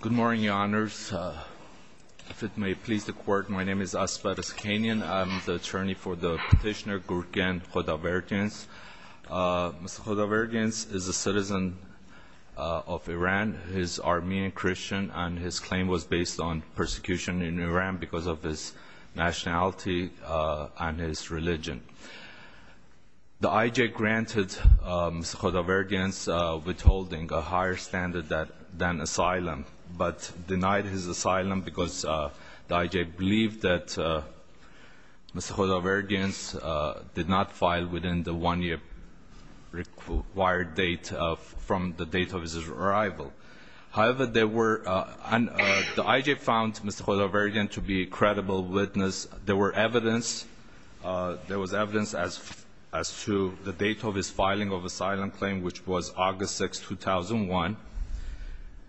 Good morning, Your Honors. If it may please the Court, my name is Asbar Iskanian. I'm the attorney for the petitioner Gurgen Khudaverdiants. Mr. Khudaverdiants is a citizen of Iran. He is Armenian Christian and his claim was based on persecution in Iran because of his nationality and his religion. The IJ granted Mr. Khudaverdiants withholding a higher standard than asylum but denied his asylum because the IJ believed that Mr. Khudaverdiants did not file within the one-year required date from the date of his arrival. However, the IJ found Mr. Khudaverdiants to be a credible witness. There was evidence as to the date of his filing of asylum claim which was August 6, 2001.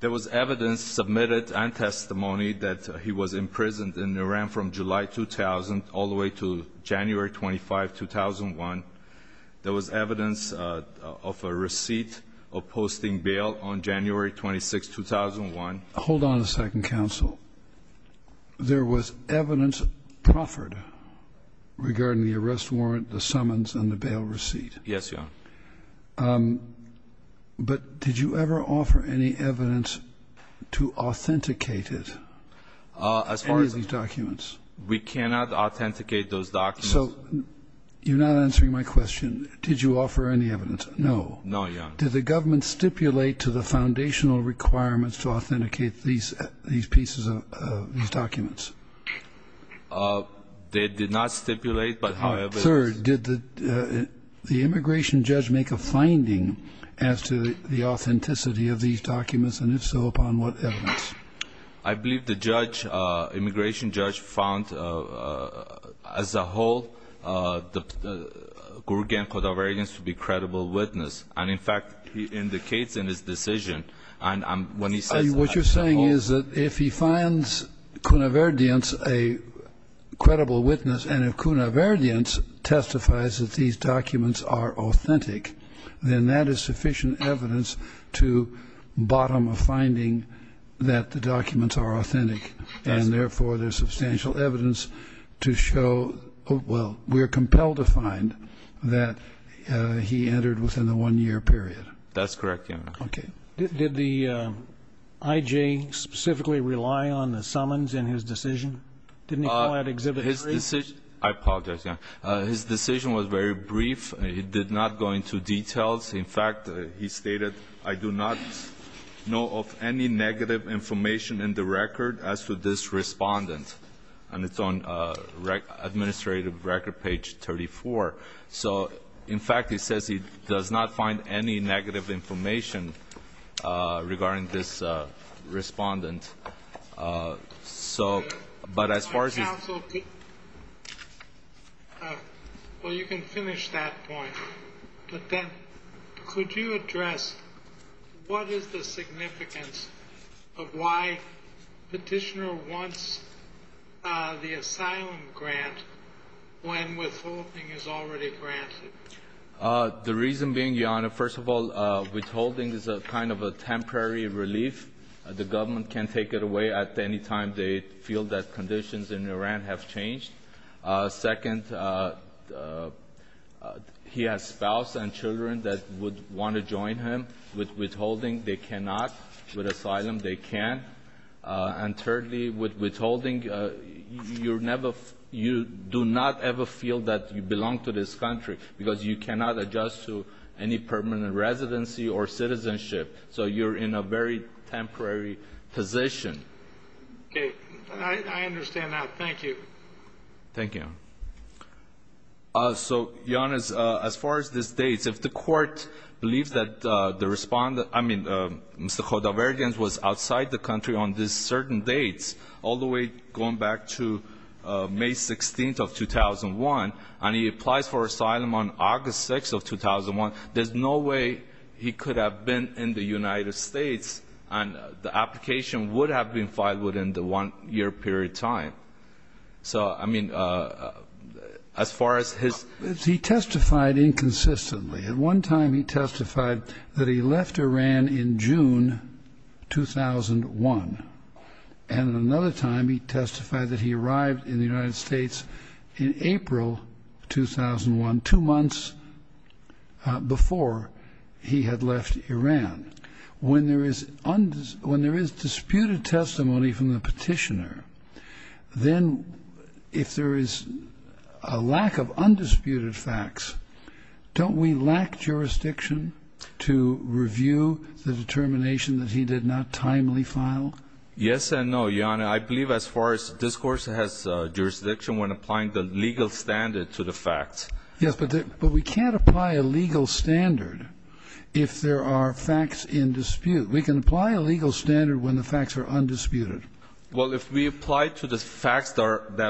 There was evidence submitted and testimony that he was imprisoned in Iran from July 2000 all the way to January 25, 2001. There was evidence of a receipt of posting bail on January 26, 2001. Hold on a second, Counsel. There was evidence proffered regarding the arrest warrant, the But did you ever offer any evidence to authenticate it? As far as Any of these documents? We cannot authenticate those documents. So you're not answering my question. Did you offer any evidence? No. No, Your Honor. Did the government stipulate to the foundational requirements to authenticate these pieces of these documents? They did not stipulate, but however Third, did the immigration judge make a finding as to the authenticity of these documents and if so, upon what evidence? I believe the judge, immigration judge, found as a whole, Gurgen Khudaverdiants to be a credible witness. And in fact, he indicates in his decision and when he says What you're saying is that if he finds Khudaverdiants a credible witness and if Khudaverdiants testifies that these documents are authentic, then that is sufficient evidence to bottom a finding that the documents are authentic. And therefore, there's substantial evidence to show, well, we're compelled to find that he entered within the one-year period. That's correct, Your Honor. Okay. Did the I.J. specifically rely on the summons in his decision? Didn't he call out Exhibit 3? His decision, I apologize, Your Honor. His decision was very brief. It did not go into details. In fact, he stated, I do not know of any negative information in the record as to this respondent. And it's on administrative record page 34. So, in fact, he says he does not find any negative information regarding this respondent. So, but as far as he's Counsel, well, you can finish that point. But then, could you address what is the significance of why Petitioner wants the asylum grant when withholding is already granted? The reason being, Your Honor, first of all, withholding is a kind of a temporary relief. The government can take it away at any time they feel that conditions in Iran have changed. Second, he has spouse and children that would want to join him. With withholding, they cannot. With asylum, they can. And thirdly, with withholding, you're never you do not ever feel that you are a citizen of this country, because you cannot adjust to any permanent residency or citizenship. So you're in a very temporary position. Okay. I understand that. Thank you. Thank you. So, Your Honor, as far as this dates, if the court believes that the respondent I mean, Mr. Khodavarian was outside the country on this certain dates, all the way going back to May 16th of 2001, and he applies for asylum on August 6th of 2001, there's no way he could have been in the United States, and the application would have been filed within the one-year period time. So, I mean, as far as his He testified inconsistently. At one time, he testified that he left Iran in June 2001. And another time, he testified that he arrived in the United States in April 2001, two months before he had left Iran. When there is disputed testimony from the petitioner, then if there is a lack of undisputed facts, don't we lack jurisdiction to review the determination that he did not timely file? Yes and no, Your Honor. I believe as far as this Court has jurisdiction when applying the legal standard to the facts. Yes, but we can't apply a legal standard if there are facts in dispute. We can apply a legal standard when the facts are undisputed. Well, if we apply to the facts that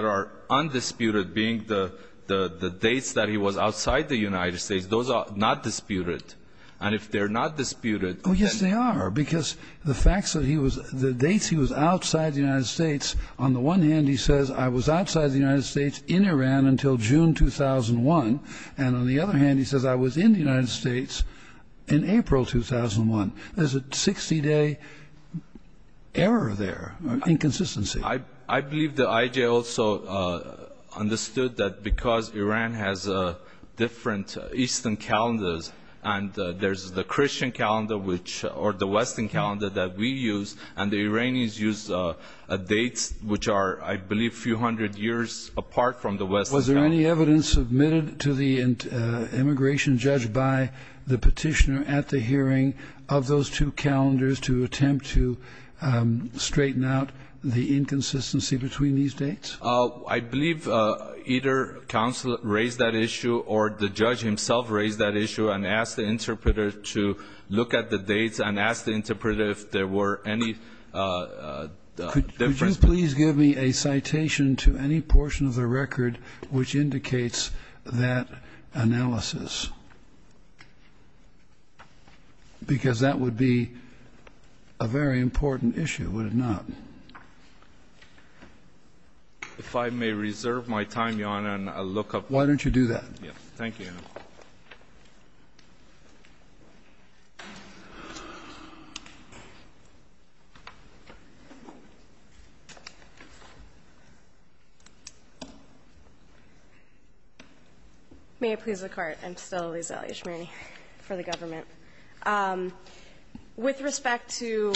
are undisputed, being the dates that he was outside the United States, those are not disputed. And if they're not disputed Oh, yes, they are. Because the facts that he was the dates he was outside the United States, on the one hand, he says, I was outside the United States in Iran until June 2001. And on the other hand, he says, I was in the United States in April 2001. There's a 60-day error there, inconsistency. I believe that I.J. also understood that because Iran has different Eastern calendars, and there's the Christian calendar, or the Western calendar that we use, and the Iranians use dates which are, I believe, a few hundred years apart from the Western calendar. Was there any evidence submitted to the immigration judge by the petitioner at the hearing of those two calendars to attempt to straighten out the inconsistency between these dates? I believe either counsel raised that issue or the judge himself raised that issue and asked the interpreter to look at the dates and asked the interpreter if there were any difference. Could you please give me a citation to any portion of the record which indicates that analysis? Because that would be a very important issue, would it not? If I may reserve my time, Your Honor, and I'll look up. Why don't you do that? Thank you, Your Honor. May it please the Court. I'm Stella Lizelli-Ishmani for the government. With respect to,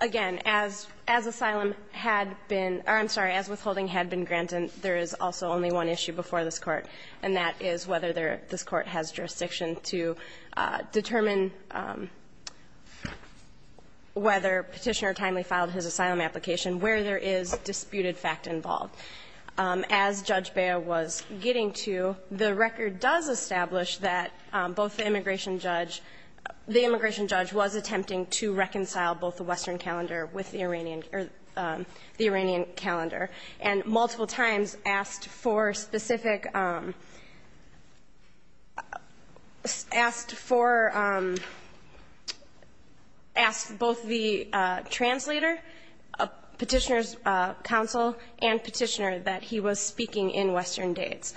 again, as asylum had been, or I'm sorry, as withholding had been granted, there is also only one issue before this Court, and that is whether this Court has jurisdiction to determine whether petitioner timely filed his asylum application, where there is disputed fact involved. As Judge Bea was getting to, the record does establish that both the immigration judge, the immigration judge was attempting to reconcile both the Western calendar with the Iranian calendar, and multiple times asked for specific, asked for, asked both the translator, petitioner's counsel, and petitioner that he was speaking in Western dates.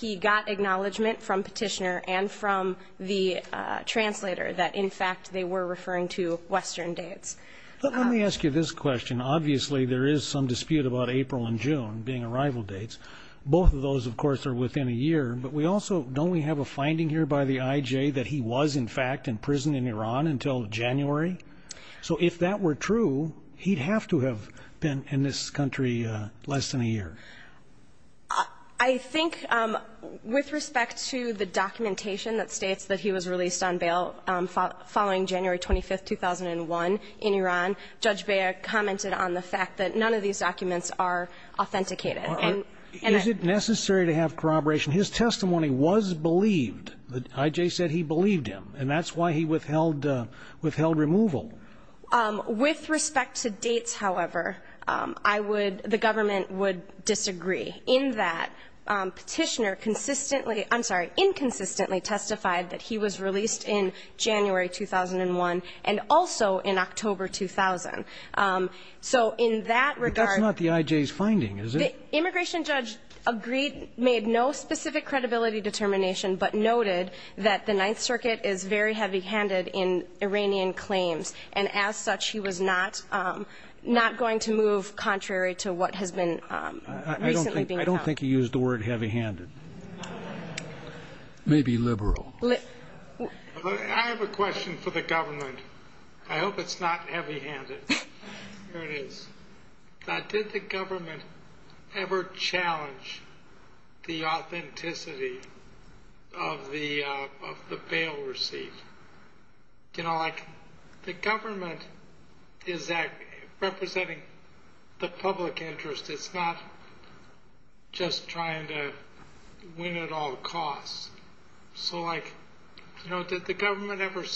He got acknowledgment from petitioner and from the translator that, in fact, they were referring to Western dates. But let me ask you this question. Obviously, there is some dispute about April and June being arrival dates. Both of those, of course, are within a year, but we also, don't we have a finding here by the IJ that he was, in fact, in prison in Iran until January? So if that were true, he'd have to have been in this country less than a year. I think, with respect to the documentation that states that he was released on bail following January 25, 2001, in Iran, Judge Bea commented on the fact that none of these documents are authenticated. Is it necessary to have corroboration? His testimony was believed. The IJ said he believed him, and that's why he withheld removal. With respect to dates, however, I would, the government would disagree. In that, petitioner consistently, I'm sorry, inconsistently testified that he was released in January 2001, and also in October 2000. So in that regard... But that's not the IJ's finding, is it? The immigration judge agreed, made no specific credibility determination, but noted that the Ninth Circuit is very heavy-handed in Iranian claims, and as such, he was not going to move contrary to what has been recently being held. I don't think he used the word heavy-handed. Maybe liberal. I have a question for the government. I hope it's not heavy-handed. Here it is. Did the government ever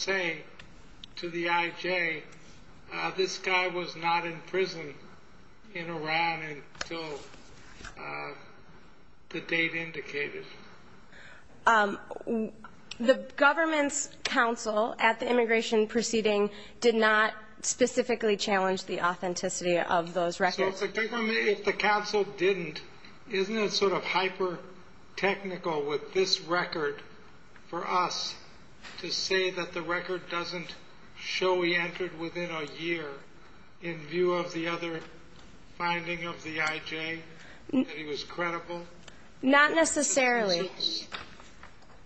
say to the IJ, this guy was not in prison in Iran until the date indicated? The government's counsel at the immigration proceeding did not specifically challenge the authenticity of those records. So if the counsel didn't, isn't it sort of hyper-technical with this record for us to say that the record doesn't show he entered within a year, in view of the other finding of the IJ, that he was credible? Not necessarily.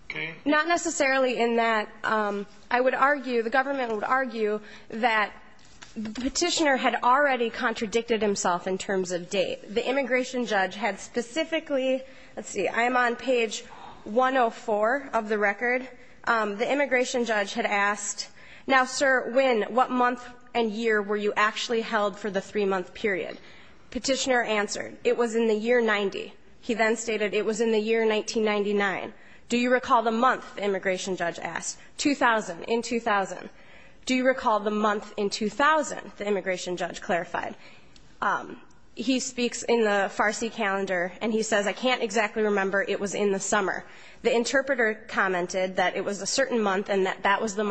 Okay. Not necessarily, in that I would argue, the government would argue that the petitioner had already contradicted himself in terms of date. The immigration judge had specifically – let's see, I am on page 104 of the record. The immigration judge had asked, now, sir, when, what month and year were you actually held for the three-month period? Petitioner answered, it was in the year 90. He then stated, it was in the year 1999. Do you recall the month, the immigration judge asked? 2000, in 2000. Do you recall the month in 2000, the immigration judge clarified? He speaks in the Farsi calendar, and he says, I can't exactly remember. It was in the summer. The interpreter commented that it was a certain month and that that was the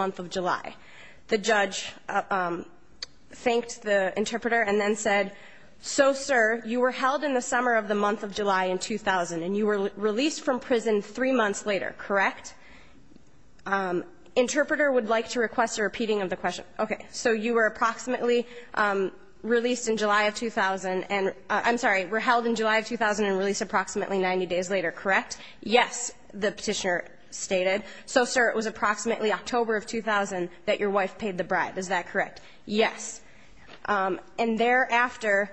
So, sir, you were held in the summer of the month of July in 2000, and you were released from prison three months later, correct? Interpreter would like to request a repeating of the question. Okay. So you were approximately released in July of 2000 and – I'm sorry, were held in July of 2000 and released approximately 90 days later, correct? Yes, the petitioner stated. So, sir, it was approximately October of 2000 that your wife paid the bribe, is that correct? Yes. And thereafter,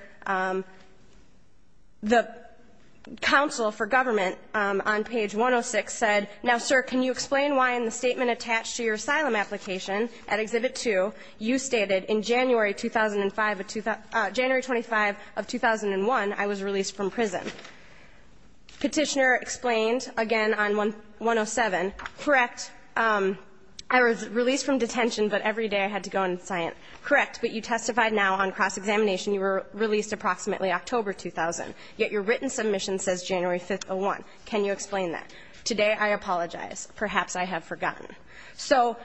the counsel for government on page 106 said, now, sir, can you explain why in the statement attached to your asylum application at Exhibit 2, you stated, in January 2005 – January 25 of 2001, I was released from prison. Petitioner explained again on 107, correct, I was released from detention, but every day I had to go and – correct, but you testified now on cross-examination, you were released approximately October 2000, yet your written submission says January 5th, 2001. Can you explain that? Today, I apologize. Perhaps I have forgotten. So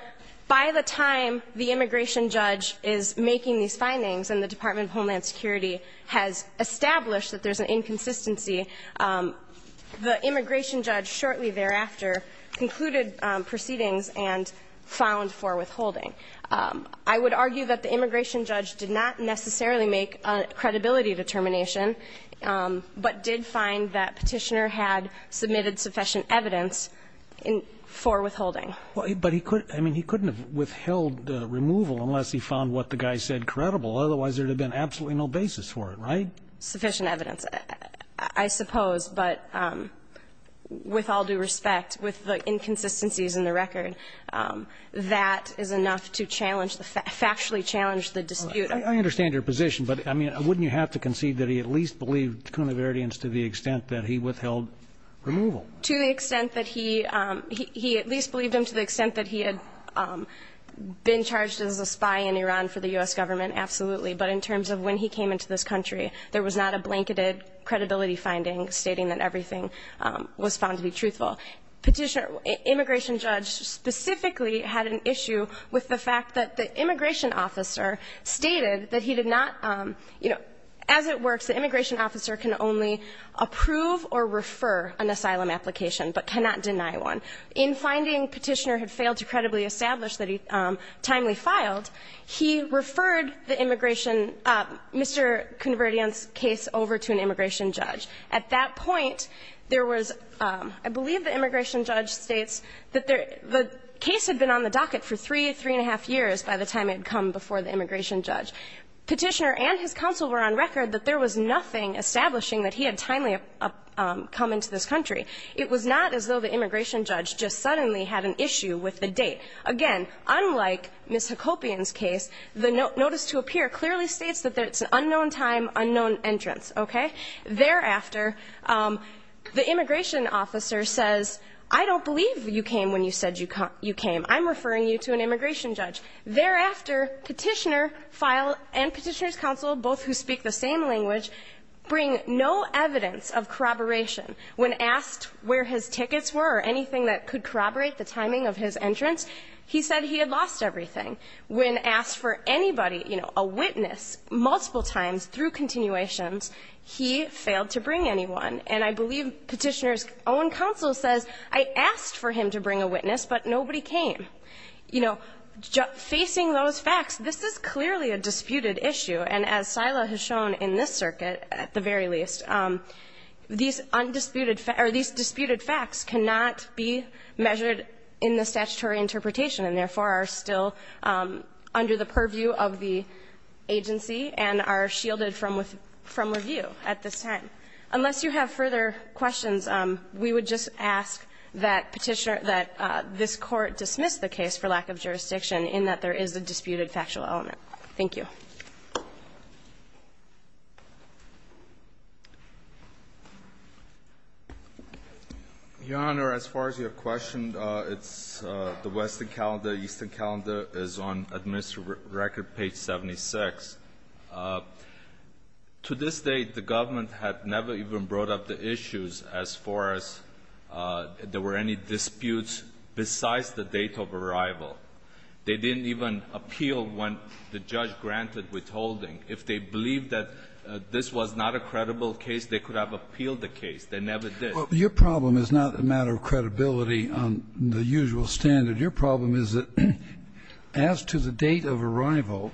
by the time the immigration judge is making these findings and the Department of Homeland Security has established that there's an inconsistency, the immigration judge shortly thereafter concluded proceedings and found for withholding. I would argue that the immigration judge did not necessarily make a credibility determination, but did find that Petitioner had submitted sufficient evidence for withholding. But he couldn't – I mean, he couldn't have withheld removal unless he found what the guy said credible. Otherwise, there would have been absolutely no basis for it, right? No sufficient evidence, I suppose. But with all due respect, with the inconsistencies in the record, that is enough to challenge the – factually challenge the dispute. I understand your position, but, I mean, wouldn't you have to concede that he at least believed Kounoverdian's to the extent that he withheld removal? To the extent that he – he at least believed him to the extent that he had been charged as a spy in Iran for the U.S. government, absolutely. But in terms of when he came into this country, there was not a blanketed credibility finding stating that everything was found to be truthful. Petitioner – immigration judge specifically had an issue with the fact that the immigration officer stated that he did not – you know, as it works, the immigration officer can only approve or refer an asylum application, but cannot deny one. In finding Petitioner had failed to credibly establish that he timely filed, he referred the immigration – Mr. Kounoverdian's case over to an immigration judge. At that point, there was – I believe the immigration judge states that there – the case had been on the docket for three, three and a half years by the time it had come before the immigration judge. Petitioner and his counsel were on record that there was nothing establishing that he had timely come into this Again, unlike Ms. Hakobian's case, the notice to appear clearly states that it's an unknown time, unknown entrance. Okay? Thereafter, the immigration officer says, I don't believe you came when you said you came. I'm referring you to an immigration judge. Thereafter, Petitioner filed, and Petitioner's counsel, both who speak the same language, bring no evidence of corroboration when asked where his tickets were or anything that could corroborate the timing of his entrance. He said he had lost everything. When asked for anybody, you know, a witness, multiple times through continuations, he failed to bring anyone. And I believe Petitioner's own counsel says, I asked for him to bring a witness, but nobody came. You know, facing those facts, this is clearly a disputed issue. And as Sila has shown in this circuit, at the very least, these undisputed – or these disputed facts cannot be measured in the statutory interpretation and, therefore, are still under the purview of the agency and are shielded from review at this time. Unless you have further questions, we would just ask that Petitioner – that this Court dismiss the case for lack of jurisdiction in that there is a disputed factual element. Thank you. Thank you. Your Honor, as far as your question, it's the Western calendar, Eastern calendar is on administrative record, page 76. To this date, the government had never even brought up the issues as far as there were any disputes besides the date of arrival. They didn't even appeal when the judge granted withholding. If they believed that this was not a credible case, they could have appealed the case. They never did. Your problem is not a matter of credibility on the usual standard. Your problem is that as to the date of arrival,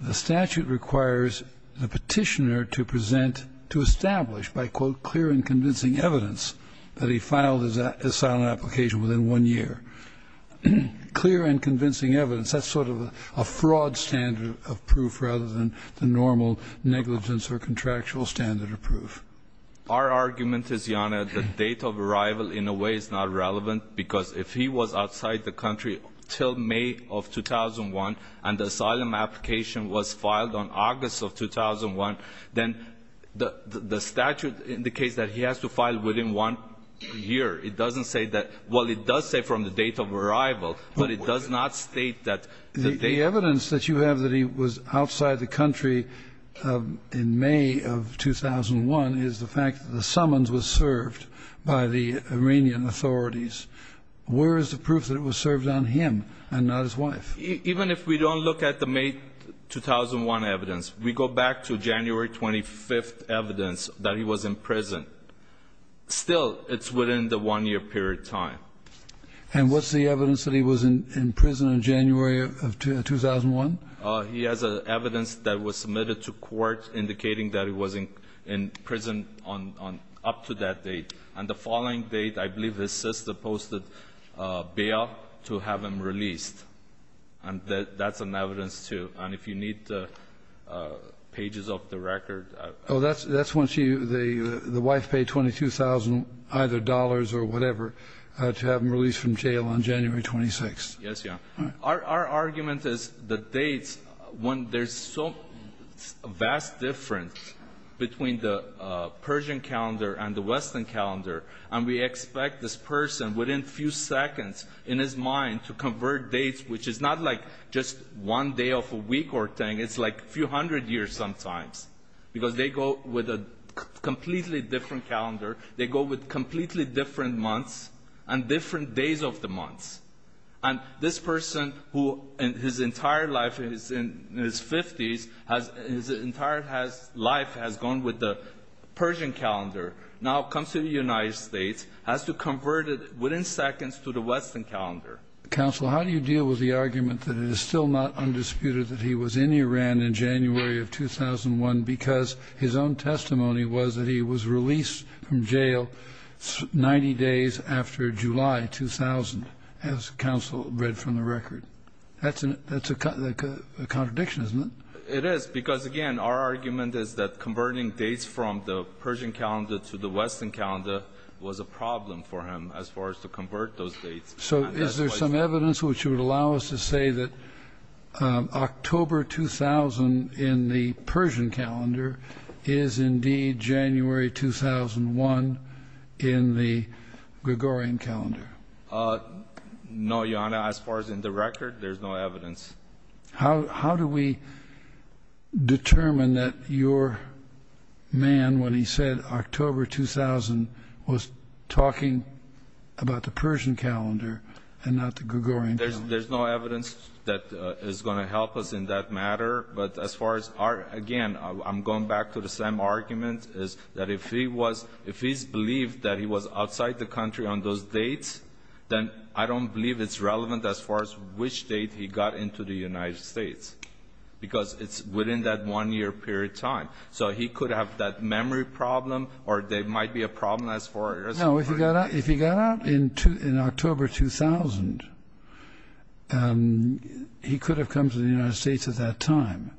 the statute requires the Petitioner to present – to establish by, quote, clear and convincing evidence that he filed his asylum application within one year. Clear and convincing evidence, that's sort of a fraud standard of proof rather than the normal negligence or contractual standard of proof. Our argument is, Your Honor, the date of arrival in a way is not relevant because if he was outside the country until May of 2001 and the asylum application was filed on August of 2001, then the statute indicates that he has to file within one year It doesn't say that – well, it does say from the date of arrival, but it does not state that The evidence that you have that he was outside the country in May of 2001 is the fact that the summons was served by the Iranian authorities. Where is the proof that it was served on him and not his wife? Even if we don't look at the May 2001 evidence, we go back to January 25th evidence that he was in prison. Still, it's within the one-year period time. And what's the evidence that he was in prison in January of 2001? He has evidence that was submitted to court indicating that he was in prison on – up to that date. And the following date, I believe his sister posted bail to have him released. And that's an evidence, too. And if you need the pages of the record – Oh, that's when she – the wife paid $22,000, either dollars or whatever, to have him released from jail on January 26th. Yes, Your Honor. Our argument is the dates, when there's so – a vast difference between the Persian calendar and the Western calendar, and we expect this person within a few seconds in his mind to convert dates, which is not like just one day of a week or a thing. It's like a few hundred years sometimes, because they go with a completely different calendar. They go with completely different months and different days of the months. And this person, who in his entire life, in his 50s, his entire life has gone with the Persian calendar, now comes to the United States, has to convert it within seconds to the Western calendar. Counsel, how do you deal with the argument that it is still not undisputed that he was in Iran in January of 2001 because his own testimony was that he was released from jail 90 days after July 2000, as counsel read from the record? That's a contradiction, isn't it? It is, because, again, our argument is that converting dates from the Persian calendar to the Western calendar was a problem for him as far as to convert those dates. So is there some evidence which would allow us to say that October 2000 in the Persian calendar is indeed January 2001 in the Gregorian calendar? No, Your Honor. As far as in the record, there's no evidence. How do we determine that your man, when he said October 2000, was talking about the Persian calendar and not the Gregorian calendar? There's no evidence that is going to help us in that matter. But as far as our, again, I'm going back to the same argument, is that if he's believed that he was outside the country on those dates, then I don't believe it's relevant as far as which date he got into the United States So he could have that memory problem, or there might be a problem as far as the time. No. If he got out in October 2000, he could have come to the United States at that time.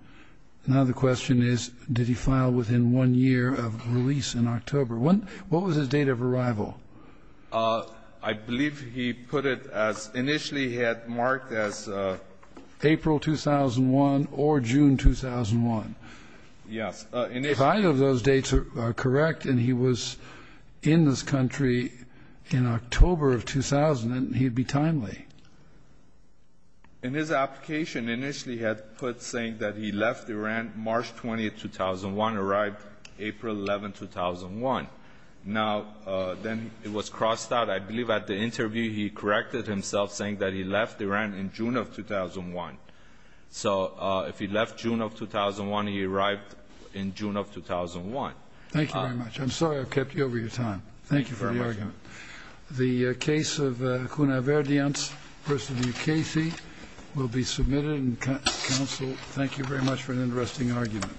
Now the question is, did he file within one year of release in October? What was his date of arrival? I believe he put it as initially he had marked as April 2001 or June 2001. Yes. If either of those dates are correct and he was in this country in October of 2000, he'd be timely. In his application, initially he had put saying that he left Iran March 20, 2001, arrived April 11, 2001. Now then it was crossed out. I believe at the interview he corrected himself saying that he left Iran in June of 2001. So if he left June of 2001, he arrived in June of 2001. Thank you very much. I'm sorry I've kept you over your time. Thank you for the argument. You're welcome. The case of Kuna Verdiant v. Casey will be submitted. Counsel, thank you very much for an interesting argument.